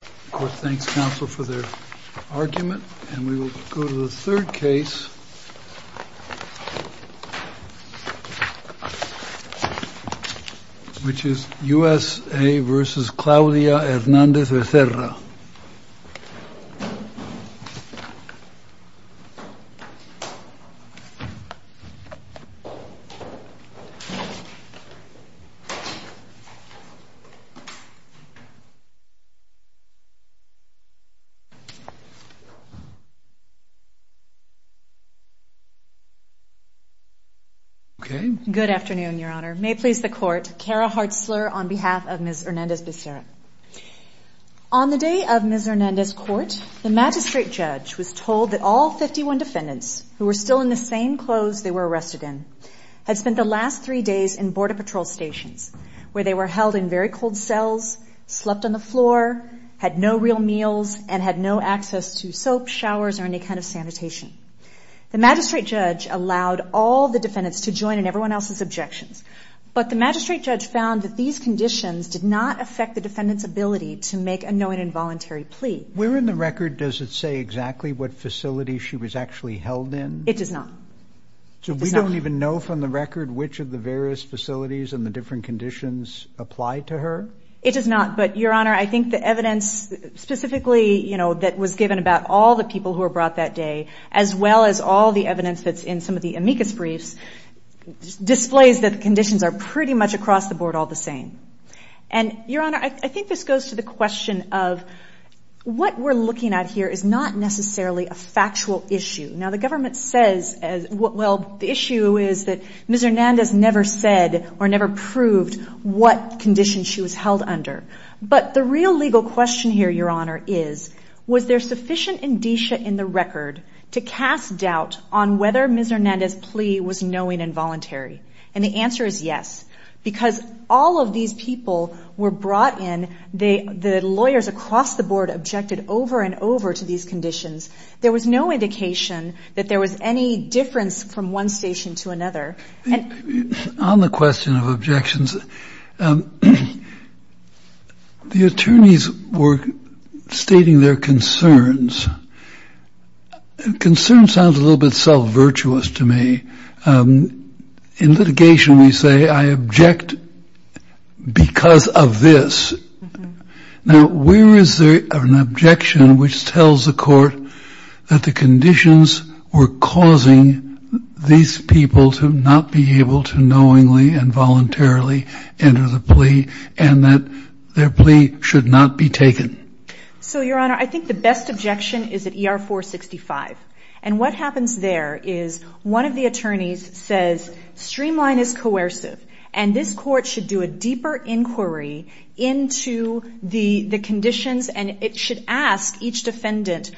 Of course, thanks, counsel, for their argument. And we will go to the third case, which is U.S.A. v. Claudia Hernández-Becerra. Good afternoon, Your Honor. May it please the Court, Kara Hartzler on behalf of Ms. Hernández-Becerra. On the day of Ms. Hernández's court, the magistrate judge was told that all 51 defendants who were still in the same clothes they were arrested in had spent the last three days in border patrol stations, where they were held in very cold cells, slept on the floor, had no real meals, and had no access to soap, showers, or any kind of sanitation. The magistrate judge allowed all the defendants to join in everyone else's objections. But the magistrate judge found that these conditions did not affect the defendant's ability to make a knowing and voluntary plea. Where in the record does it say exactly what facility she was actually held in? It does not. So we don't even know from the record which of the various facilities and the different conditions apply to her? It does not. But, Your Honor, I think the evidence specifically, you know, that was given about all the people who were brought that day, as well as all the evidence that's in some of the amicus briefs, displays that the conditions are pretty much across the board all the same. And, Your Honor, I think this goes to the question of what we're looking at here is not necessarily a factual issue. Now, the government says, well, the issue is that Ms. Hernandez never said or never proved what condition she was held under. But the real legal question here, Your Honor, is, was there sufficient indicia in the record to cast doubt on whether Ms. Hernandez's plea was knowing and voluntary? And the answer is yes, because all of these people were brought in, the lawyers across the board objected over and over to these conditions. There was no indication that there was any difference from one station to another. On the question of objections, the attorneys were stating their concerns. Concern sounds a little bit self-virtuous to me. In litigation, we say I object because of this. Now, where is there an objection which tells the court that the conditions were causing these people to not be able to knowingly and voluntarily enter the plea and that their plea should not be taken? So, Your Honor, I think the best objection is at ER-465. And what happens there is one of the attorneys says, streamline is coercive. And this court should do a deeper inquiry into the conditions and it should ask each defendant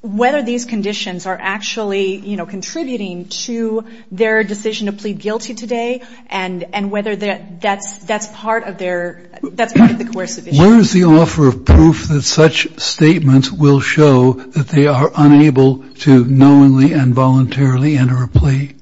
whether these conditions are actually, you know, contributing to their decision to plead guilty today and whether that's part of their, that's part of the coercive issue. Where is the offer of proof that such statements will show that they are unable to knowingly and voluntarily enter a plea?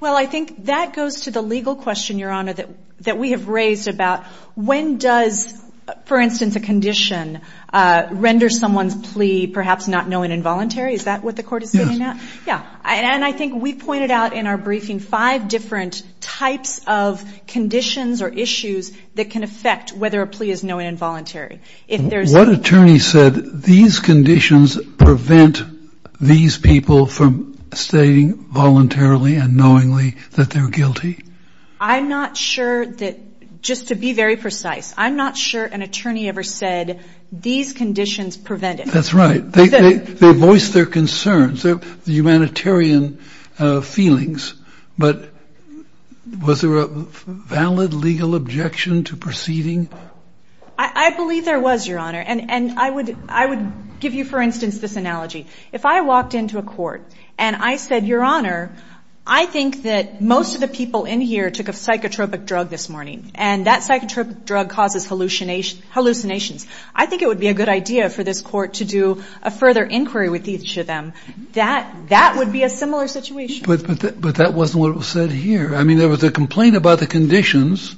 Well, I think that goes to the legal question, Your Honor, that we have raised about when does, for instance, a condition render someone's plea perhaps not knowingly and voluntarily? Is that what the court is sitting at? Yeah. And I think we pointed out in our briefing five different types of conditions or issues that can affect whether a plea is knowingly and voluntarily. What attorney said these conditions prevent these people from stating voluntarily and knowingly that they're guilty? I'm not sure that, just to be very precise, I'm not sure an attorney ever said these conditions prevent it. That's right. They voice their concerns, their humanitarian feelings. But was there a valid legal objection to proceeding? I believe there was, Your Honor. And I would give you, for instance, this analogy. If I walked into a court and I said, Your Honor, I think that most of the people in here took a psychotropic drug this morning and that psychotropic drug causes hallucinations, I think it would be a good idea for this court to do a further inquiry with each of them. That would be a similar situation. But that wasn't what was said here. I mean, there was a complaint about the conditions,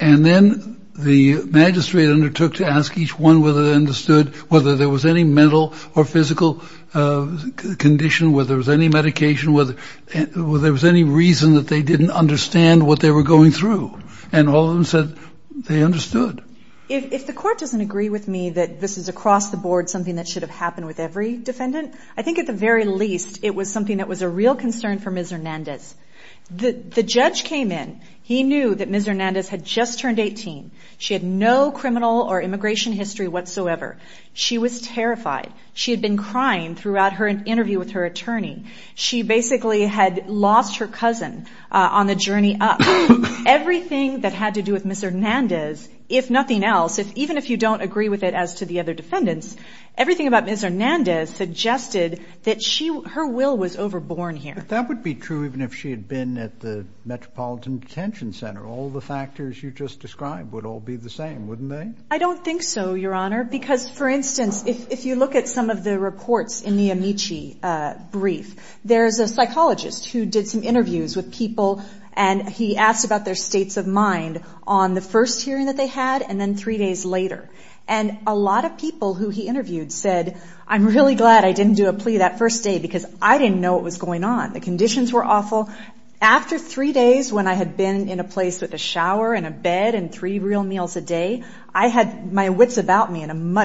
and then the magistrate undertook to ask each one whether they understood whether there was any mental or physical condition, whether there was any medication, whether there was any reason that they didn't understand what they were going through. And all of them said they understood. If the court doesn't agree with me that this is across the board something that should have happened with every defendant, I think at the very least it was something that was a real concern for Ms. Hernandez. The judge came in. He knew that Ms. Hernandez had just turned 18. She had no criminal or immigration history whatsoever. She was terrified. She had been crying throughout her interview with her attorney. She basically had lost her cousin on the journey up. Everything that had to do with Ms. Hernandez, if nothing else, even if you don't agree with it as to the other defendants, everything about Ms. Hernandez suggested that her will was overborn here. But that would be true even if she had been at the Metropolitan Detention Center. All the factors you just described would all be the same, wouldn't they? I don't think so, Your Honor, because, for instance, if you look at some of the reports in the Amici brief, there's a psychologist who did some interviews with people, and he actually asked about their states of mind on the first hearing that they had and then three days later. And a lot of people who he interviewed said, I'm really glad I didn't do a plea that first day, because I didn't know what was going on. The conditions were awful. After three days when I had been in a place with a shower and a bed and three real meals a day, I had my wits about me and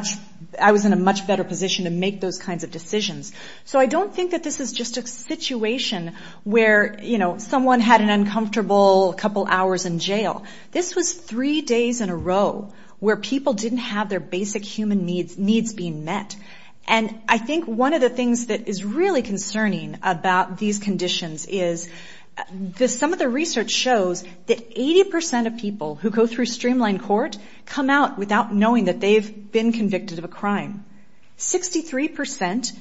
I was in a much better position to make those kinds of decisions. So I don't think that this is just a situation where, you know, someone had an uncomfortable couple hours in jail. This was three days in a row where people didn't have their basic human needs being met. And I think one of the things that is really concerning about these conditions is that some of the research shows that 80 percent of people who go through streamlined court come out without knowing that they've been convicted of a crime. 63 percent think that they've been convicted of a crime.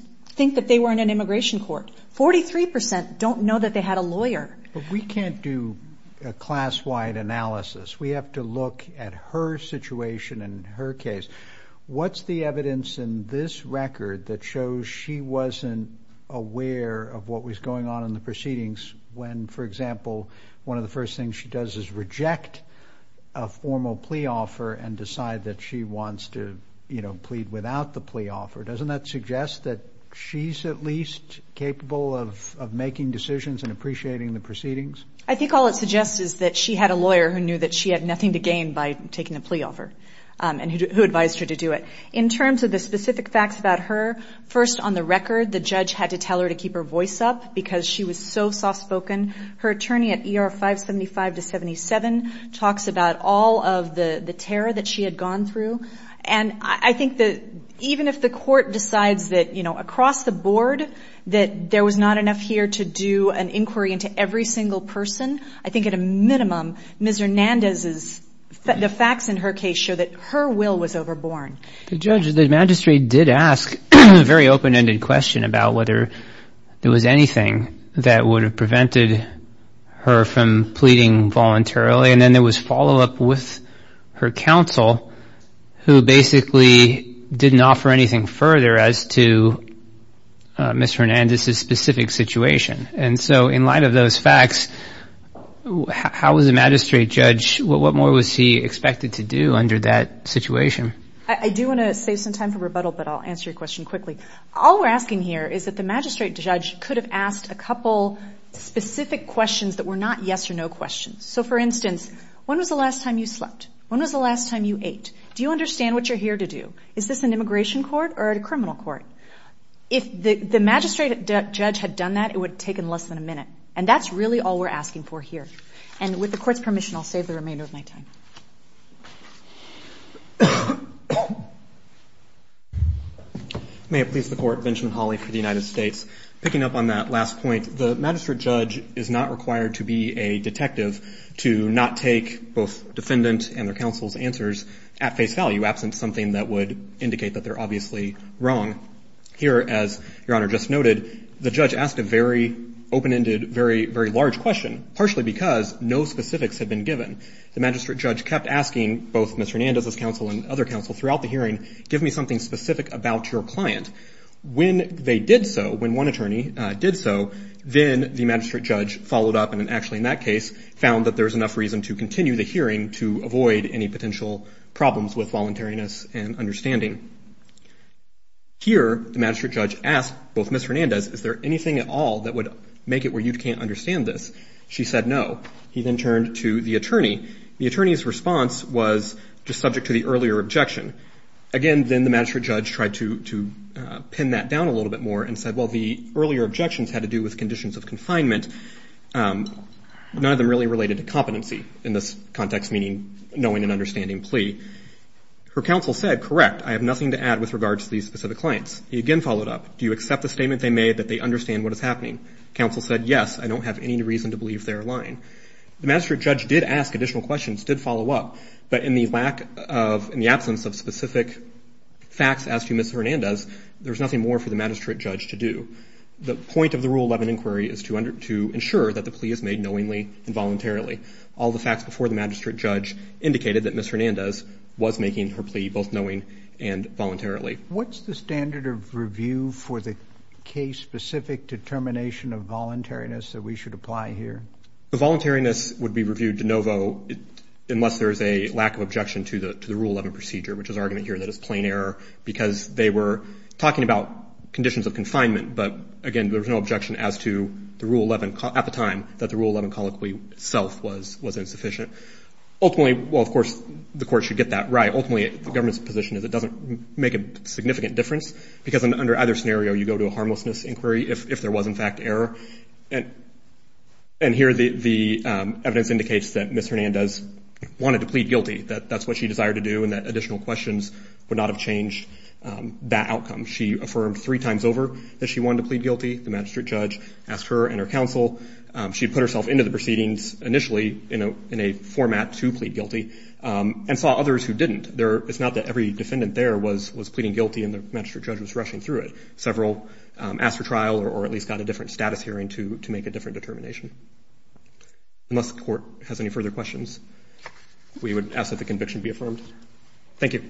And that's not true. 43 percent don't know that they had a lawyer. I think all it suggests is that she had a lawyer who knew that she had nothing to gain by taking the plea off her and who advised her to do it. In terms of the specific facts about her, first, on the record, the judge had to tell her to keep her voice up because she was so soft-spoken. Her attorney at ER 575 to 77 talks about all of the terror that she had gone through. And I think that even if the court decides that, you know, across the board, you know, you're going to have to have a lawyer, you're going to have to have a lawyer, you're going to have to have a lawyer, you're going to have to have a lawyer, you're going to have to have a lawyer, you're going to have to have a lawyer. I think at a minimum, Ms. Hernandez's, the facts in her case show that her will was overborn. The judge, the magistrate did ask a very open-ended question about whether there was anything that would have prevented her from pleading voluntarily. And then there was follow-up with her counsel who basically didn't offer anything further as to, you know, whether she was willing to plead. Ms. Hernandez's specific situation. And so in light of those facts, how was the magistrate judge, what more was he expected to do under that situation? I do want to save some time for rebuttal, but I'll answer your question quickly. All we're asking here is that the magistrate judge could have asked a couple specific questions that were not yes or no questions. So, for instance, when was the last time you slept? When was the last time you ate? Do you understand what you're here to do? Is this an immigration court or a criminal court? If the magistrate judge had done that, it would have taken less than a minute. And that's really all we're asking for here. And with the court's permission, I'll save the remainder of my time. May it please the Court. Benjamin Hawley for the United States. Picking up on that last point, the magistrate judge is not required to be a detective to not take both defendant and their counsel's answers at face value, absent something that would indicate that they're obviously wrong. Here, as Your Honor just noted, the judge asked a very open-ended, very large question, partially because no specifics had been given. The magistrate judge kept asking both Ms. Hernandez's counsel and other counsel throughout the hearing, give me something specific about your client. When they did so, when one attorney did so, then the magistrate judge followed up and actually in that case found that there was enough reason to continue the hearing to avoid any potential problems with voluntariness and understanding. Here, the magistrate judge asked both Ms. Hernandez, is there anything at all that would make it where you can't understand this? She said no. He then turned to the attorney. The attorney's response was just subject to the earlier objection. Again, then the magistrate judge tried to pin that down a little bit more and said, well, the earlier objections had to do with conditions of confinement. None of them really related to competency in this context, meaning knowing and understanding plea. Her counsel said, correct, I have nothing to add with regards to these specific clients. He again followed up. Do you accept the statement they made that they understand what is happening? Counsel said, yes, I don't have any reason to believe they're lying. The magistrate judge did ask additional questions, did follow up, but in the absence of specific facts as to Ms. Hernandez, there's nothing more for the magistrate judge to do. The point of the Rule 11 inquiry is to ensure that the plea is made knowingly and voluntarily. All the facts before the magistrate judge indicated that Ms. Hernandez was making her plea both knowing and voluntarily. What's the standard of review for the case-specific determination of voluntariness that we should apply here? The voluntariness would be reviewed de novo unless there's a lack of objection to the Rule 11 procedure, which is argument here that it's plain error because they were talking about conditions of confinement. But again, there's no objection as to the Rule 11 at the time that the Rule 11 colloquy itself was insufficient. Ultimately, well, of course, the court should get that right. Ultimately, the government's position is it doesn't make a significant difference because under either scenario, you go to a harmlessness inquiry if there was, in fact, error. And here the evidence indicates that Ms. Hernandez wanted to plead guilty, that that's what she desired to do, and that additional questions would not have changed that outcome. She affirmed three times over that she wanted to plead guilty. The magistrate judge asked her and her counsel. She put herself into the proceedings initially in a format to plead guilty and saw others who didn't. It's not that every defendant there was pleading guilty and the magistrate judge was rushing through it. Several asked for trial or at least got a different status hearing to make a different determination. Unless the court has any further questions, we would ask that the conviction be affirmed. Thank you.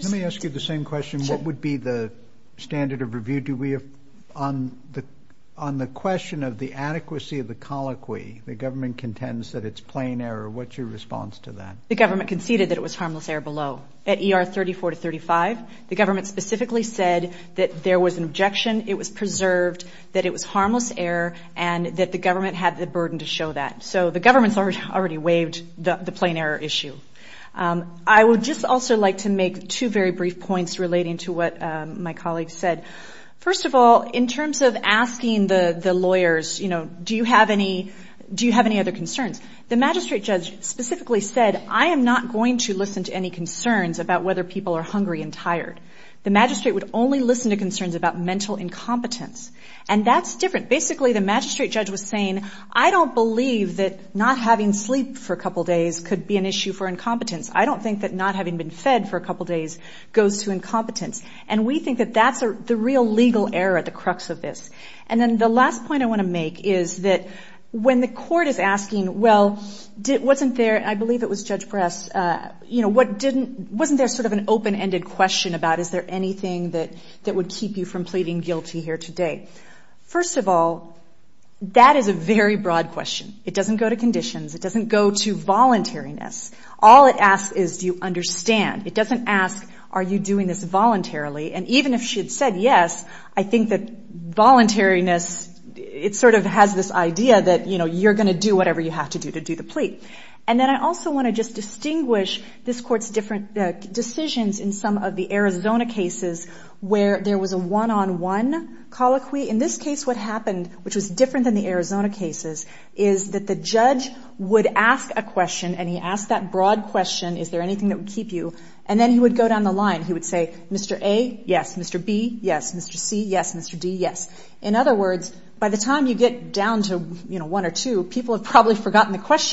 Let me ask you the same question. What would be the standard of review? On the question of the adequacy of the colloquy, the government contends that it's plain error. What's your response to that? The government conceded that it was harmless error below. At ER 34 to 35, the government specifically said that there was an objection, it was preserved, that it was harmless error, and that the government had the burden to show that. So the government's already waived the plain error issue. I would just also like to make two very brief points relating to what my colleague said. First of all, in terms of asking the lawyers, you know, do you have any other concerns? The magistrate judge specifically said, I am not going to listen to any concerns about whether people are hungry and tired. The magistrate would only listen to concerns about mental incompetence. And that's different. Basically the magistrate judge was saying, I don't believe that not having sleep for a couple days could be an issue for incompetence. I don't think that not having been fed for a couple days goes to incompetence. And we think that that's the real legal error at the crux of this. And then the last point I want to make is that when the court is asking, well, wasn't there, I believe it was Judge Press, you know, wasn't there sort of an open-ended question about is there anything that would keep you from pleading guilty here today? First of all, that is a very broad question. It doesn't go to conditions. It doesn't go to voluntariness. All it asks is do you understand. It doesn't ask are you doing this voluntarily. And even if she had said yes, I think that voluntariness, it sort of has this idea that, you know, you're going to do whatever you have to do to do the plea. And then I also want to just distinguish this court's different decisions in some of the Arizona cases where there was a one-on-one colloquy. In this case, what happened, which was different than the Arizona cases, is that the judge would ask a question, and he asked that broad question, is there anything that would keep you, and then he would go down the line. He would say, Mr. A, yes. And then he would go down the line,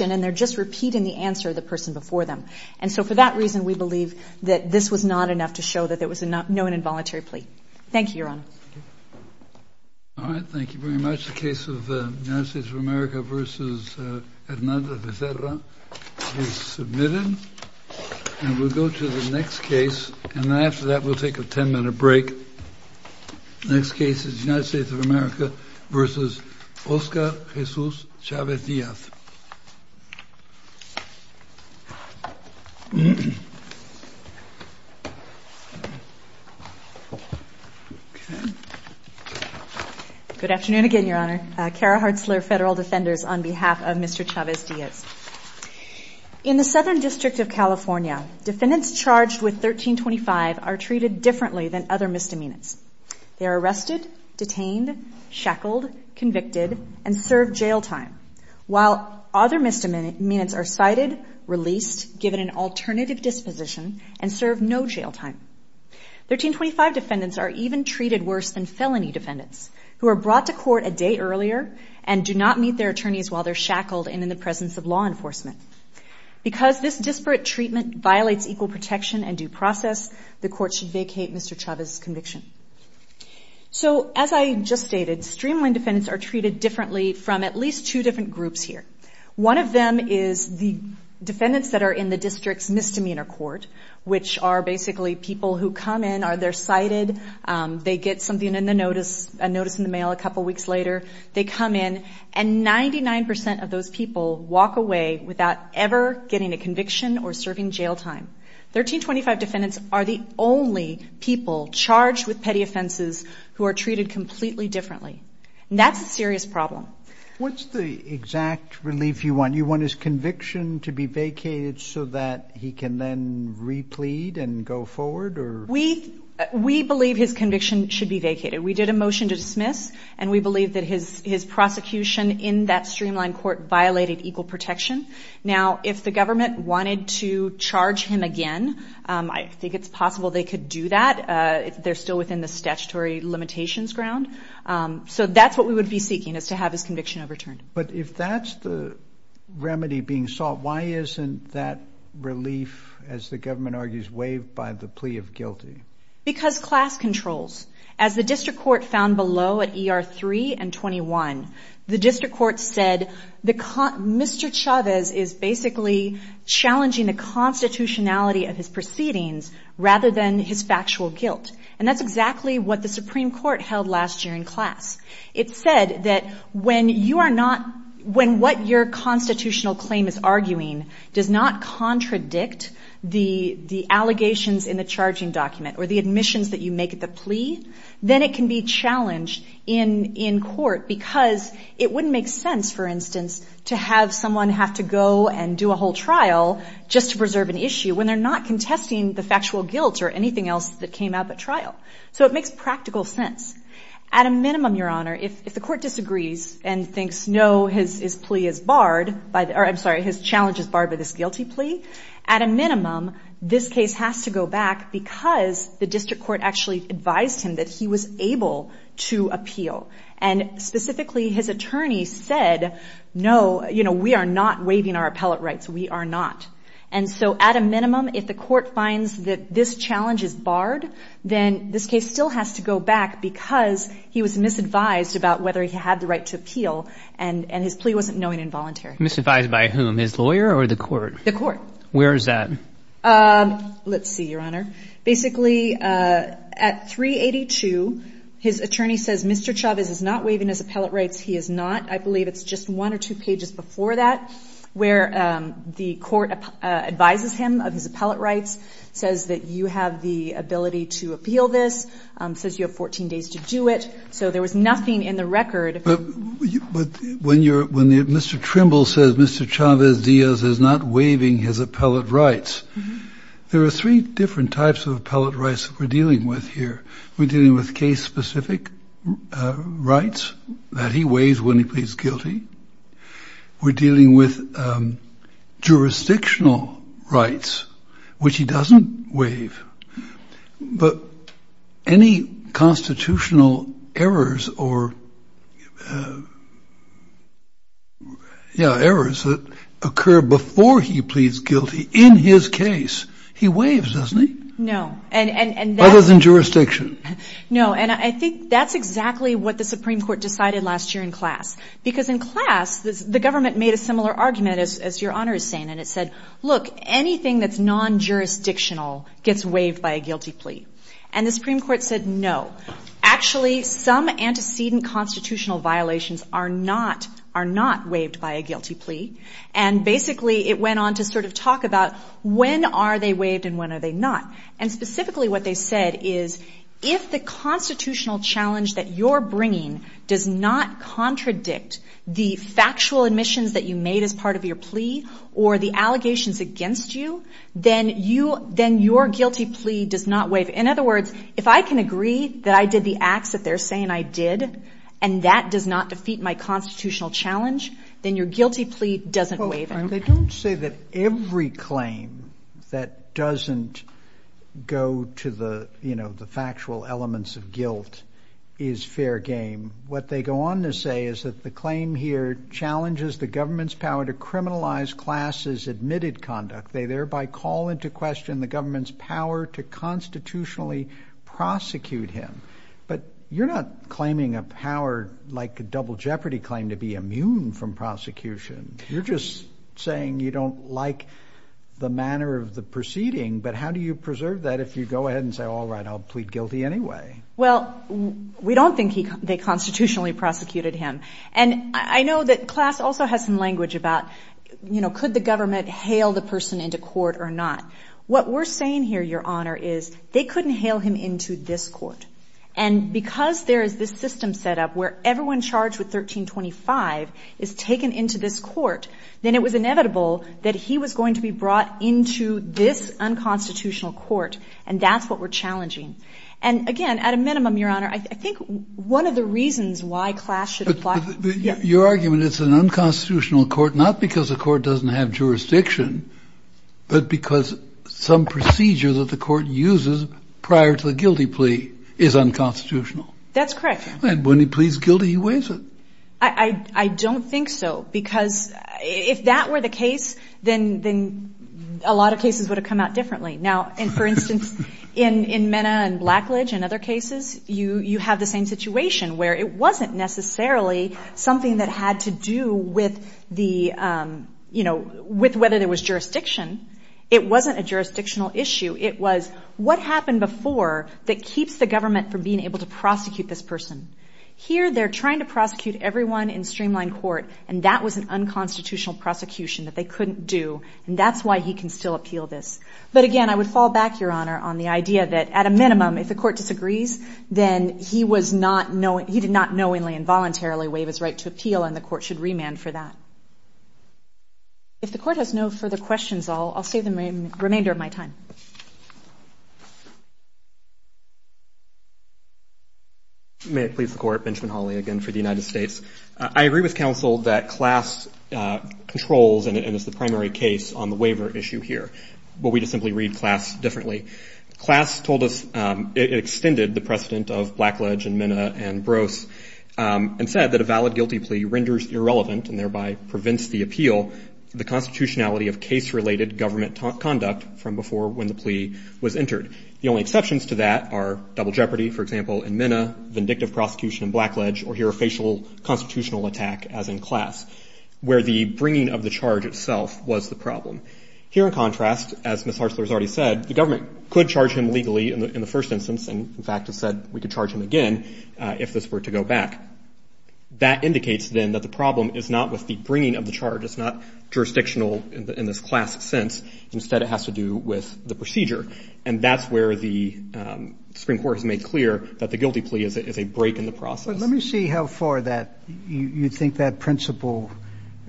and then they're just repeating the answer to the person before them. And so for that reason, we believe that this was not enough to show that there was no involuntary plea. Thank you, Your Honor. All right, thank you very much. The case of the United States of America v. Hernando Becerra is submitted. And we'll go to the next case, and after that, we'll take a 10-minute break. The next case is the United States of America v. Oscar Jesus Chavez Diaz. Good afternoon again, Your Honor. Cara Hartzler, Federal Defenders, on behalf of Mr. Chavez Diaz. In the Southern District of California, defendants charged with 1325 are treated differently than other misdemeanors. They are arrested, detained, shackled, convicted, and served jail time, while other misdemeanors are cited, released, given an alternative disposition, and served no jail time. 1325 defendants are even treated worse than felony defendants, who are brought to court a day earlier and do not meet their attorneys while they're shackled and in the presence of law enforcement. Because this disparate treatment violates equal protection and due process, the court should vacate Mr. Chavez's conviction. So as I just stated, streamlined defendants are treated differently from at least two different groups here. One of them is the defendants that are in the district's misdemeanor court, which are basically people who come in, they're cited, they get something in the notice, a notice in the mail a couple weeks later, they come in, and 99% of those people walk away without ever getting a conviction or serving jail time. 1325 defendants are the only people charged with petty offenses who are treated completely differently. And that's a serious problem. What's the exact relief you want? You want his conviction to be vacated so that he can then replete and go forward? We believe his conviction should be vacated. We did a motion to dismiss, and we believe that his prosecution in that streamlined court violated equal protection. Now, if the government wanted to charge him again, I think it's possible they could do that. They're still within the statutory limitations ground. So that's what we would be seeking, is to have his conviction overturned. But if that's the remedy being sought, why isn't that relief, as the government argues, waived by the plea of guilty? Because class controls. As the district court found below at ER 3 and 21, the district court said Mr. Chavez is basically challenging the constitutionality of his proceedings rather than his factual guilt. And that's exactly what the Supreme Court held last year in class. It said that when you are not, when what your constitutional claim is arguing does not contradict the allegations in the charging document or the admissions that you make at the plea, then it can be challenged in court, because it wouldn't make sense, for instance, to have someone have to go and do a whole trial just to preserve an issue, when they're not contesting the factual guilt or anything else that came out at trial. So it makes practical sense. At a minimum, Your Honor, if the court disagrees and thinks, no, his plea is barred, or I'm sorry, his challenge is barred by this guilty plea, at a minimum, this case has to go back, because the district court actually advised him that he was able to appeal. And specifically, his attorney said, no, you know, we are not waiving our appellate rights. We are not. And so at a minimum, if the court finds that this challenge is barred, then this case still has to go back because he was misadvised about whether he had the right to appeal, and his plea wasn't knowing and voluntary. He was misadvised by whom, his lawyer or the court? The court. Where is that? Let's see, Your Honor. Basically, at 382, his attorney says, Mr. Chavez is not waiving his appellate rights. He is not. I believe it's just one or two pages before that where the court advises him of his appellate rights, says that you have the ability to appeal this, says you have 14 days to do it. So there was nothing in the record. But when Mr. Trimble says Mr. Chavez Diaz is not waiving his appellate rights, there are three different types of appellate rights that we're dealing with here. We're dealing with case-specific rights, that he waives when he pleads guilty. We're dealing with jurisdictional rights, which he doesn't waive. But any constitutional errors or, yeah, errors that occur before he pleads guilty in his case, he waives, doesn't he? No. Other than jurisdiction. No, and I think that's exactly what the Supreme Court decided last year in class. Because in class, the government made a similar argument, as Your Honor is saying, and it said, look, anything that's non-jurisdictional gets waived by a guilty plea. And the Supreme Court said no. Actually, some antecedent constitutional violations are not waived by a guilty plea. And basically it went on to sort of talk about when are they waived and when are they not. And specifically what they said is if the constitutional challenge that you're bringing does not contradict the factual admissions that you made as part of your plea or the allegations against you, then your guilty plea does not waive. In other words, if I can agree that I did the acts that they're saying I did, and that does not defeat my constitutional challenge, then your guilty plea doesn't waive it. They don't say that every claim that doesn't go to the factual elements of guilt is fair game. What they go on to say is that the claim here challenges the government's power to criminalize class's admitted conduct. They thereby call into question the government's power to constitutionally prosecute him. But you're not claiming a power like a double jeopardy claim to be immune from prosecution. You're just saying you don't like the manner of the proceeding. But how do you preserve that if you go ahead and say, all right, I'll plead guilty anyway? Well, we don't think they constitutionally prosecuted him. And I know that class also has some language about could the government hail the person into court or not. What we're saying here, Your Honor, is they couldn't hail him into this court. And because there is this system set up where everyone charged with 1325 is taken into this court, then it was inevitable that he was going to be brought into this unconstitutional court. And that's what we're challenging. And, again, at a minimum, Your Honor, I think one of the reasons why class should apply to the court. Your argument is it's an unconstitutional court not because the court doesn't have jurisdiction, but because some procedure that the court uses prior to the guilty plea is unconstitutional. That's correct. And when he pleads guilty, he weighs it. I don't think so because if that were the case, then a lot of cases would have come out differently. Now, for instance, in Mena and Blackledge and other cases, you have the same situation where it wasn't necessarily something that had to do with the, you know, with whether there was jurisdiction. It wasn't a jurisdictional issue. It was what happened before that keeps the government from being able to prosecute this person. Here they're trying to prosecute everyone in streamlined court, and that was an unconstitutional prosecution that they couldn't do, and that's why he can still appeal this. But, again, I would fall back, Your Honor, on the idea that, at a minimum, if the court disagrees, then he did not knowingly and voluntarily waive his right to appeal, and the court should remand for that. If the court has no further questions, I'll save the remainder of my time. May it please the Court. Benjamin Hawley again for the United States. I agree with counsel that class controls, and it's the primary case on the waiver issue here, but we just simply read class differently. Class told us it extended the precedent of Blackledge and Minna and Brose and said that a valid guilty plea renders irrelevant and thereby prevents the appeal, the constitutionality of case-related government conduct from before when the plea was entered. The only exceptions to that are double jeopardy, for example, in Minna, vindictive prosecution in Blackledge, or here a facial constitutional attack, as in class, where the bringing of the charge itself was the problem. Here, in contrast, as Ms. Hartzler has already said, the government could charge him legally in the first instance, and in fact has said we could charge him again if this were to go back. That indicates, then, that the problem is not with the bringing of the charge. It's not jurisdictional in this class sense. Instead, it has to do with the procedure, and that's where the Supreme Court has made clear that the guilty plea is a break in the process. But let me see how far you think that principle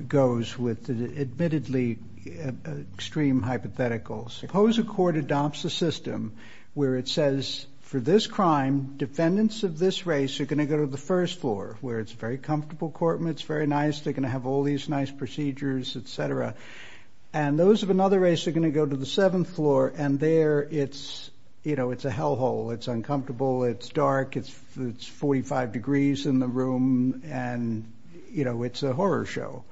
goes with the admittedly extreme hypotheticals. Suppose a court adopts a system where it says, for this crime, defendants of this race are going to go to the first floor, where it's a very comfortable court, it's very nice, they're going to have all these nice procedures, et cetera, and those of another race are going to go to the seventh floor, and there it's a hellhole. It's uncomfortable, it's dark, it's 45 degrees in the room, and it's a horror show.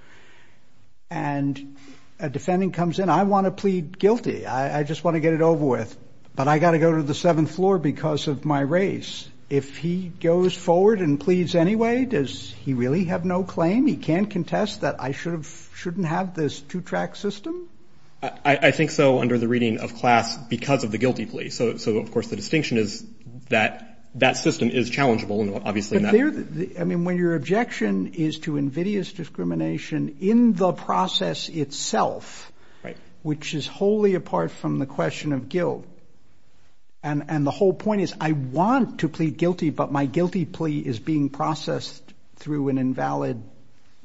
And a defendant comes in, I want to plead guilty, I just want to get it over with, but I've got to go to the seventh floor because of my race. If he goes forward and pleads anyway, does he really have no claim? He can't contest that I shouldn't have this two-track system? I think so under the reading of class because of the guilty plea. So, of course, the distinction is that that system is challengeable, obviously. I mean, when your objection is to invidious discrimination in the process itself, which is wholly apart from the question of guilt, and the whole point is I want to plead guilty, but my guilty plea is being processed through an invalid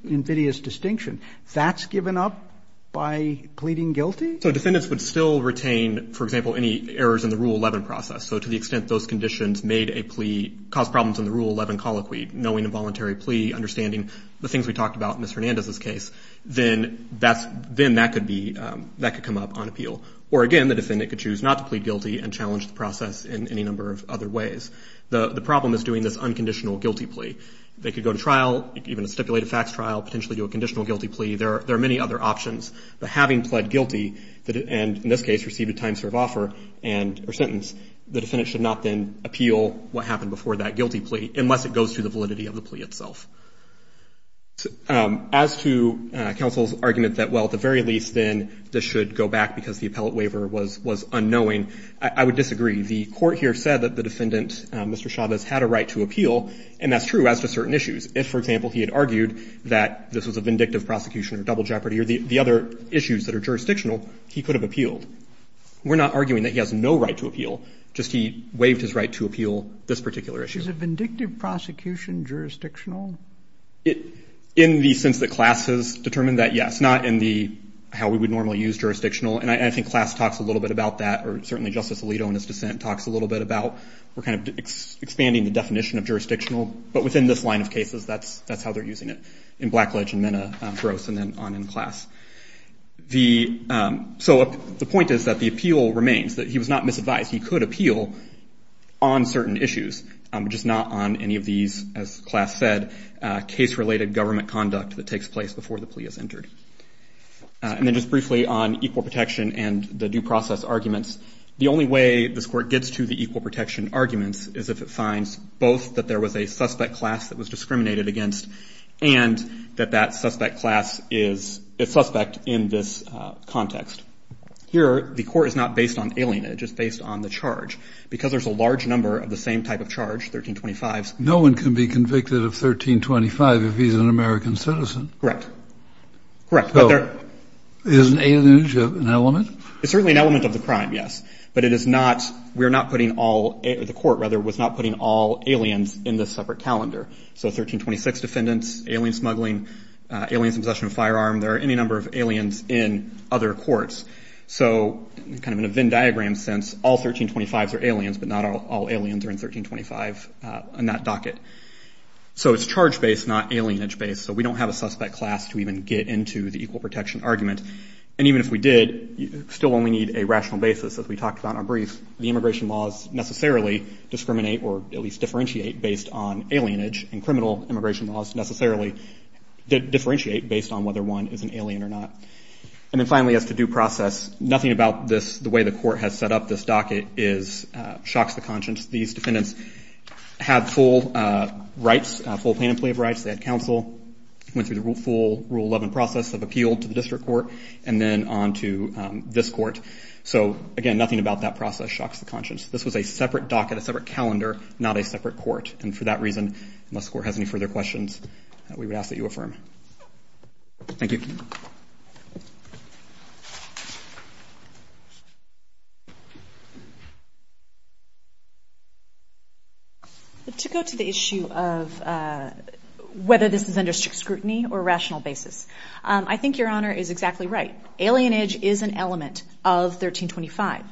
invidious distinction, that's given up by pleading guilty? So defendants would still retain, for example, any errors in the Rule 11 process. So to the extent those conditions caused problems in the Rule 11 colloquy, knowing a voluntary plea, understanding the things we talked about in Ms. Hernandez's case, then that could come up on appeal. Or, again, the defendant could choose not to plead guilty and challenge the process in any number of other ways. The problem is doing this unconditional guilty plea. They could go to trial, even a stipulated facts trial, potentially do a conditional guilty plea. There are many other options. But having pled guilty and, in this case, received a time-served offer or sentence, the defendant should not then appeal what happened before that guilty plea unless it goes to the validity of the plea itself. As to counsel's argument that, well, at the very least, then this should go back because the appellate waiver was unknowing, I would disagree. The court here said that the defendant, Mr. Chavez, had a right to appeal, and that's true as to certain issues. If, for example, he had argued that this was a vindictive prosecution or double jeopardy or the other issues that are jurisdictional, he could have appealed. We're not arguing that he has no right to appeal, just he waived his right to appeal this particular issue. Is a vindictive prosecution jurisdictional? In the sense that class has determined that, yes, not in the how we would normally use jurisdictional. And I think class talks a little bit about that, or certainly Justice Alito in his dissent talks a little bit about. We're kind of expanding the definition of jurisdictional, but within this line of cases, that's how they're using it, in Blackledge and Mena, Gross, and then on in class. So the point is that the appeal remains, that he was not misadvised. He could appeal on certain issues, just not on any of these, as class said, case-related government conduct that takes place before the plea is entered. And then just briefly on equal protection and the due process arguments, the only way this Court gets to the equal protection arguments is if it finds both that there was a suspect class that was discriminated against and that that suspect class is a suspect in this context. Here, the Court is not based on alienage. It's based on the charge. Because there's a large number of the same type of charge, 1325s. No one can be convicted of 1325 if he's an American citizen. Correct. Correct. So is an alienage an element? It's certainly an element of the crime, yes. But it is not, we're not putting all, the Court, rather, was not putting all aliens in this separate calendar. So 1326 defendants, alien smuggling, aliens in possession of a firearm, there are any number of aliens in other courts. So kind of in a Venn diagram sense, all 1325s are aliens, but not all aliens are in 1325 in that docket. So it's charge-based, not alienage-based. So we don't have a suspect class to even get into the equal protection argument. And even if we did, you still only need a rational basis, as we talked about in our brief. The immigration laws necessarily discriminate, or at least differentiate, based on alienage. And criminal immigration laws necessarily differentiate based on whether one is an alien or not. And then finally, as to due process, nothing about this, the way the Court has set up this docket, shocks the conscience. These defendants have full rights, full plaintiff's leave rights. They had counsel, went through the full Rule 11 process of appeal to the district court, and then on to this court. So again, nothing about that process shocks the conscience. This was a separate docket, a separate calendar, not a separate court. And for that reason, unless the Court has any further questions, we would ask that you affirm. Thank you. To go to the issue of whether this is under scrutiny or rational basis, I think Your Honor is exactly right. Alienage is an element of 1325.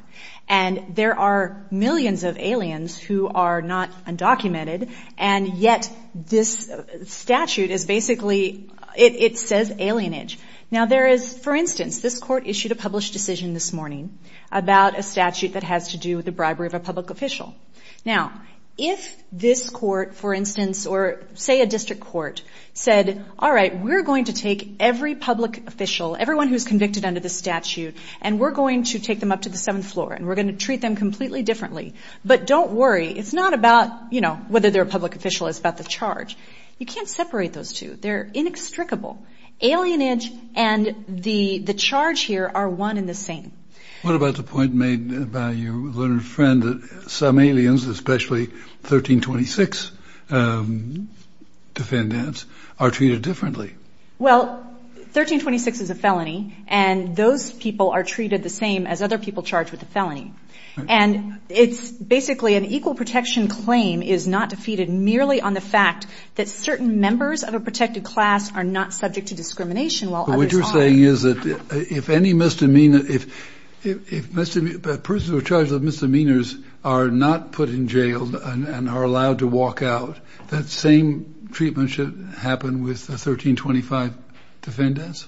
And there are millions of aliens who are not undocumented, and yet this statute is basically, it says alienage. Now there is, for instance, this Court issued a published decision this morning about a statute that has to do with the bribery of a public official. Now, if this Court, for instance, or say a district court, said, all right, we're going to take every public official, everyone who's convicted under this statute, and we're going to take them up to the seventh floor, and we're going to treat them completely differently. But don't worry. It's not about, you know, whether they're a public official. It's about the charge. You can't separate those two. They're inextricable. Alienage and the charge here are one and the same. What about the point made by your learned friend that some aliens, especially 1326 defendants, are treated differently? Well, 1326 is a felony, and those people are treated the same as other people charged with the felony. And it's basically an equal protection claim is not defeated merely on the fact that certain members of a protected class are not subject to discrimination while others are. But what you're saying is that if any misdemeanor, if persons who are charged with misdemeanors are not put in jail and are allowed to walk out, that same treatment should happen with the 1325 defendants?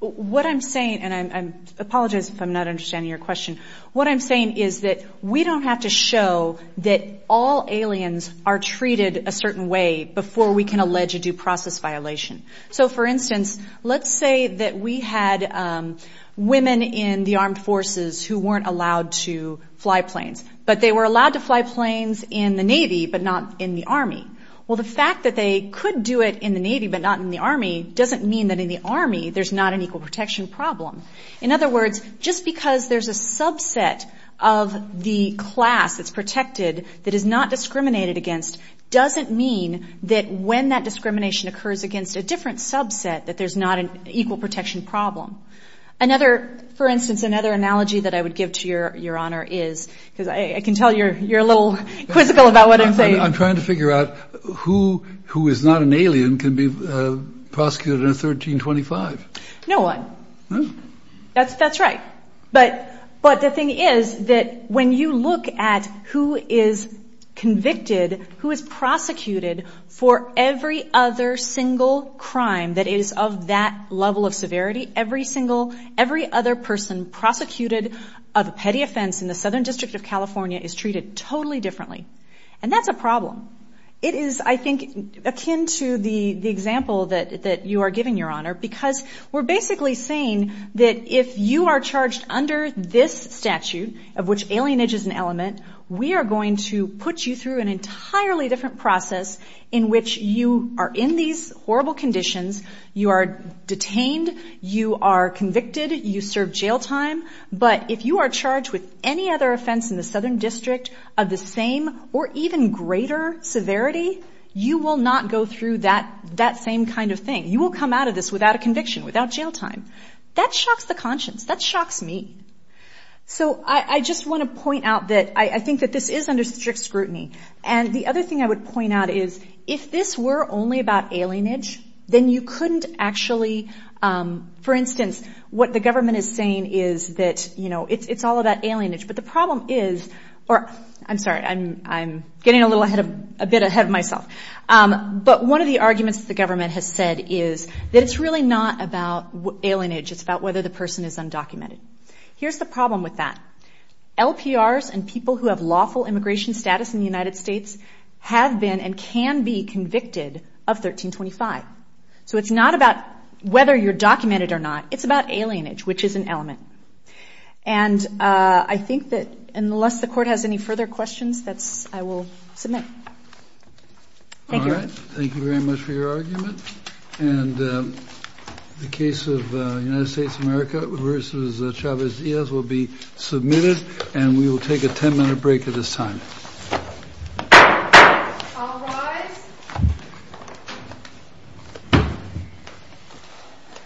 What I'm saying, and I apologize if I'm not understanding your question, what I'm saying is that we don't have to show that all aliens are treated a certain way before we can allege a due process violation. So, for instance, let's say that we had women in the armed forces who weren't allowed to fly planes, but they were allowed to fly planes in the Navy but not in the Army. Well, the fact that they could do it in the Navy but not in the Army doesn't mean that in the Army there's not an equal protection problem. In other words, just because there's a subset of the class that's protected that is not discriminated against doesn't mean that when that discrimination occurs against a different subset that there's not an equal protection problem. Another, for instance, another analogy that I would give to Your Honor is, because I can tell you're a little quizzical about what I'm saying. I'm trying to figure out who is not an alien can be prosecuted under 1325. No one. That's right. But the thing is that when you look at who is convicted, who is prosecuted for every other single crime that is of that level of severity, every other person prosecuted of a petty offense in the Southern District of California is treated totally differently. And that's a problem. It is, I think, akin to the example that you are giving, Your Honor, because we're basically saying that if you are charged under this statute of which alienage is an element, we are going to put you through an entirely different process in which you are in these horrible conditions. You are detained. You are convicted. You serve jail time. But if you are charged with any other offense in the Southern District of the same or even greater severity, you will not go through that same kind of thing. You will come out of this without a conviction, without jail time. That shocks the conscience. That shocks me. So I just want to point out that I think that this is under strict scrutiny. And the other thing I would point out is if this were only about alienage, then you couldn't actually, for instance, what the government is saying is that, you know, it's all about alienage. But the problem is or I'm sorry, I'm getting a little ahead of myself. But one of the arguments the government has said is that it's really not about alienage. It's about whether the person is undocumented. Here's the problem with that. LPRs and people who have lawful immigration status in the United States have been and can be convicted of 1325. So it's not about whether you're documented or not. It's about alienage, which is an element. And I think that unless the court has any further questions, I will submit. Thank you. All right. Thank you very much for your argument. And the case of United States of America versus Chavez Diaz will be submitted. And we will take a 10 minute break at this time.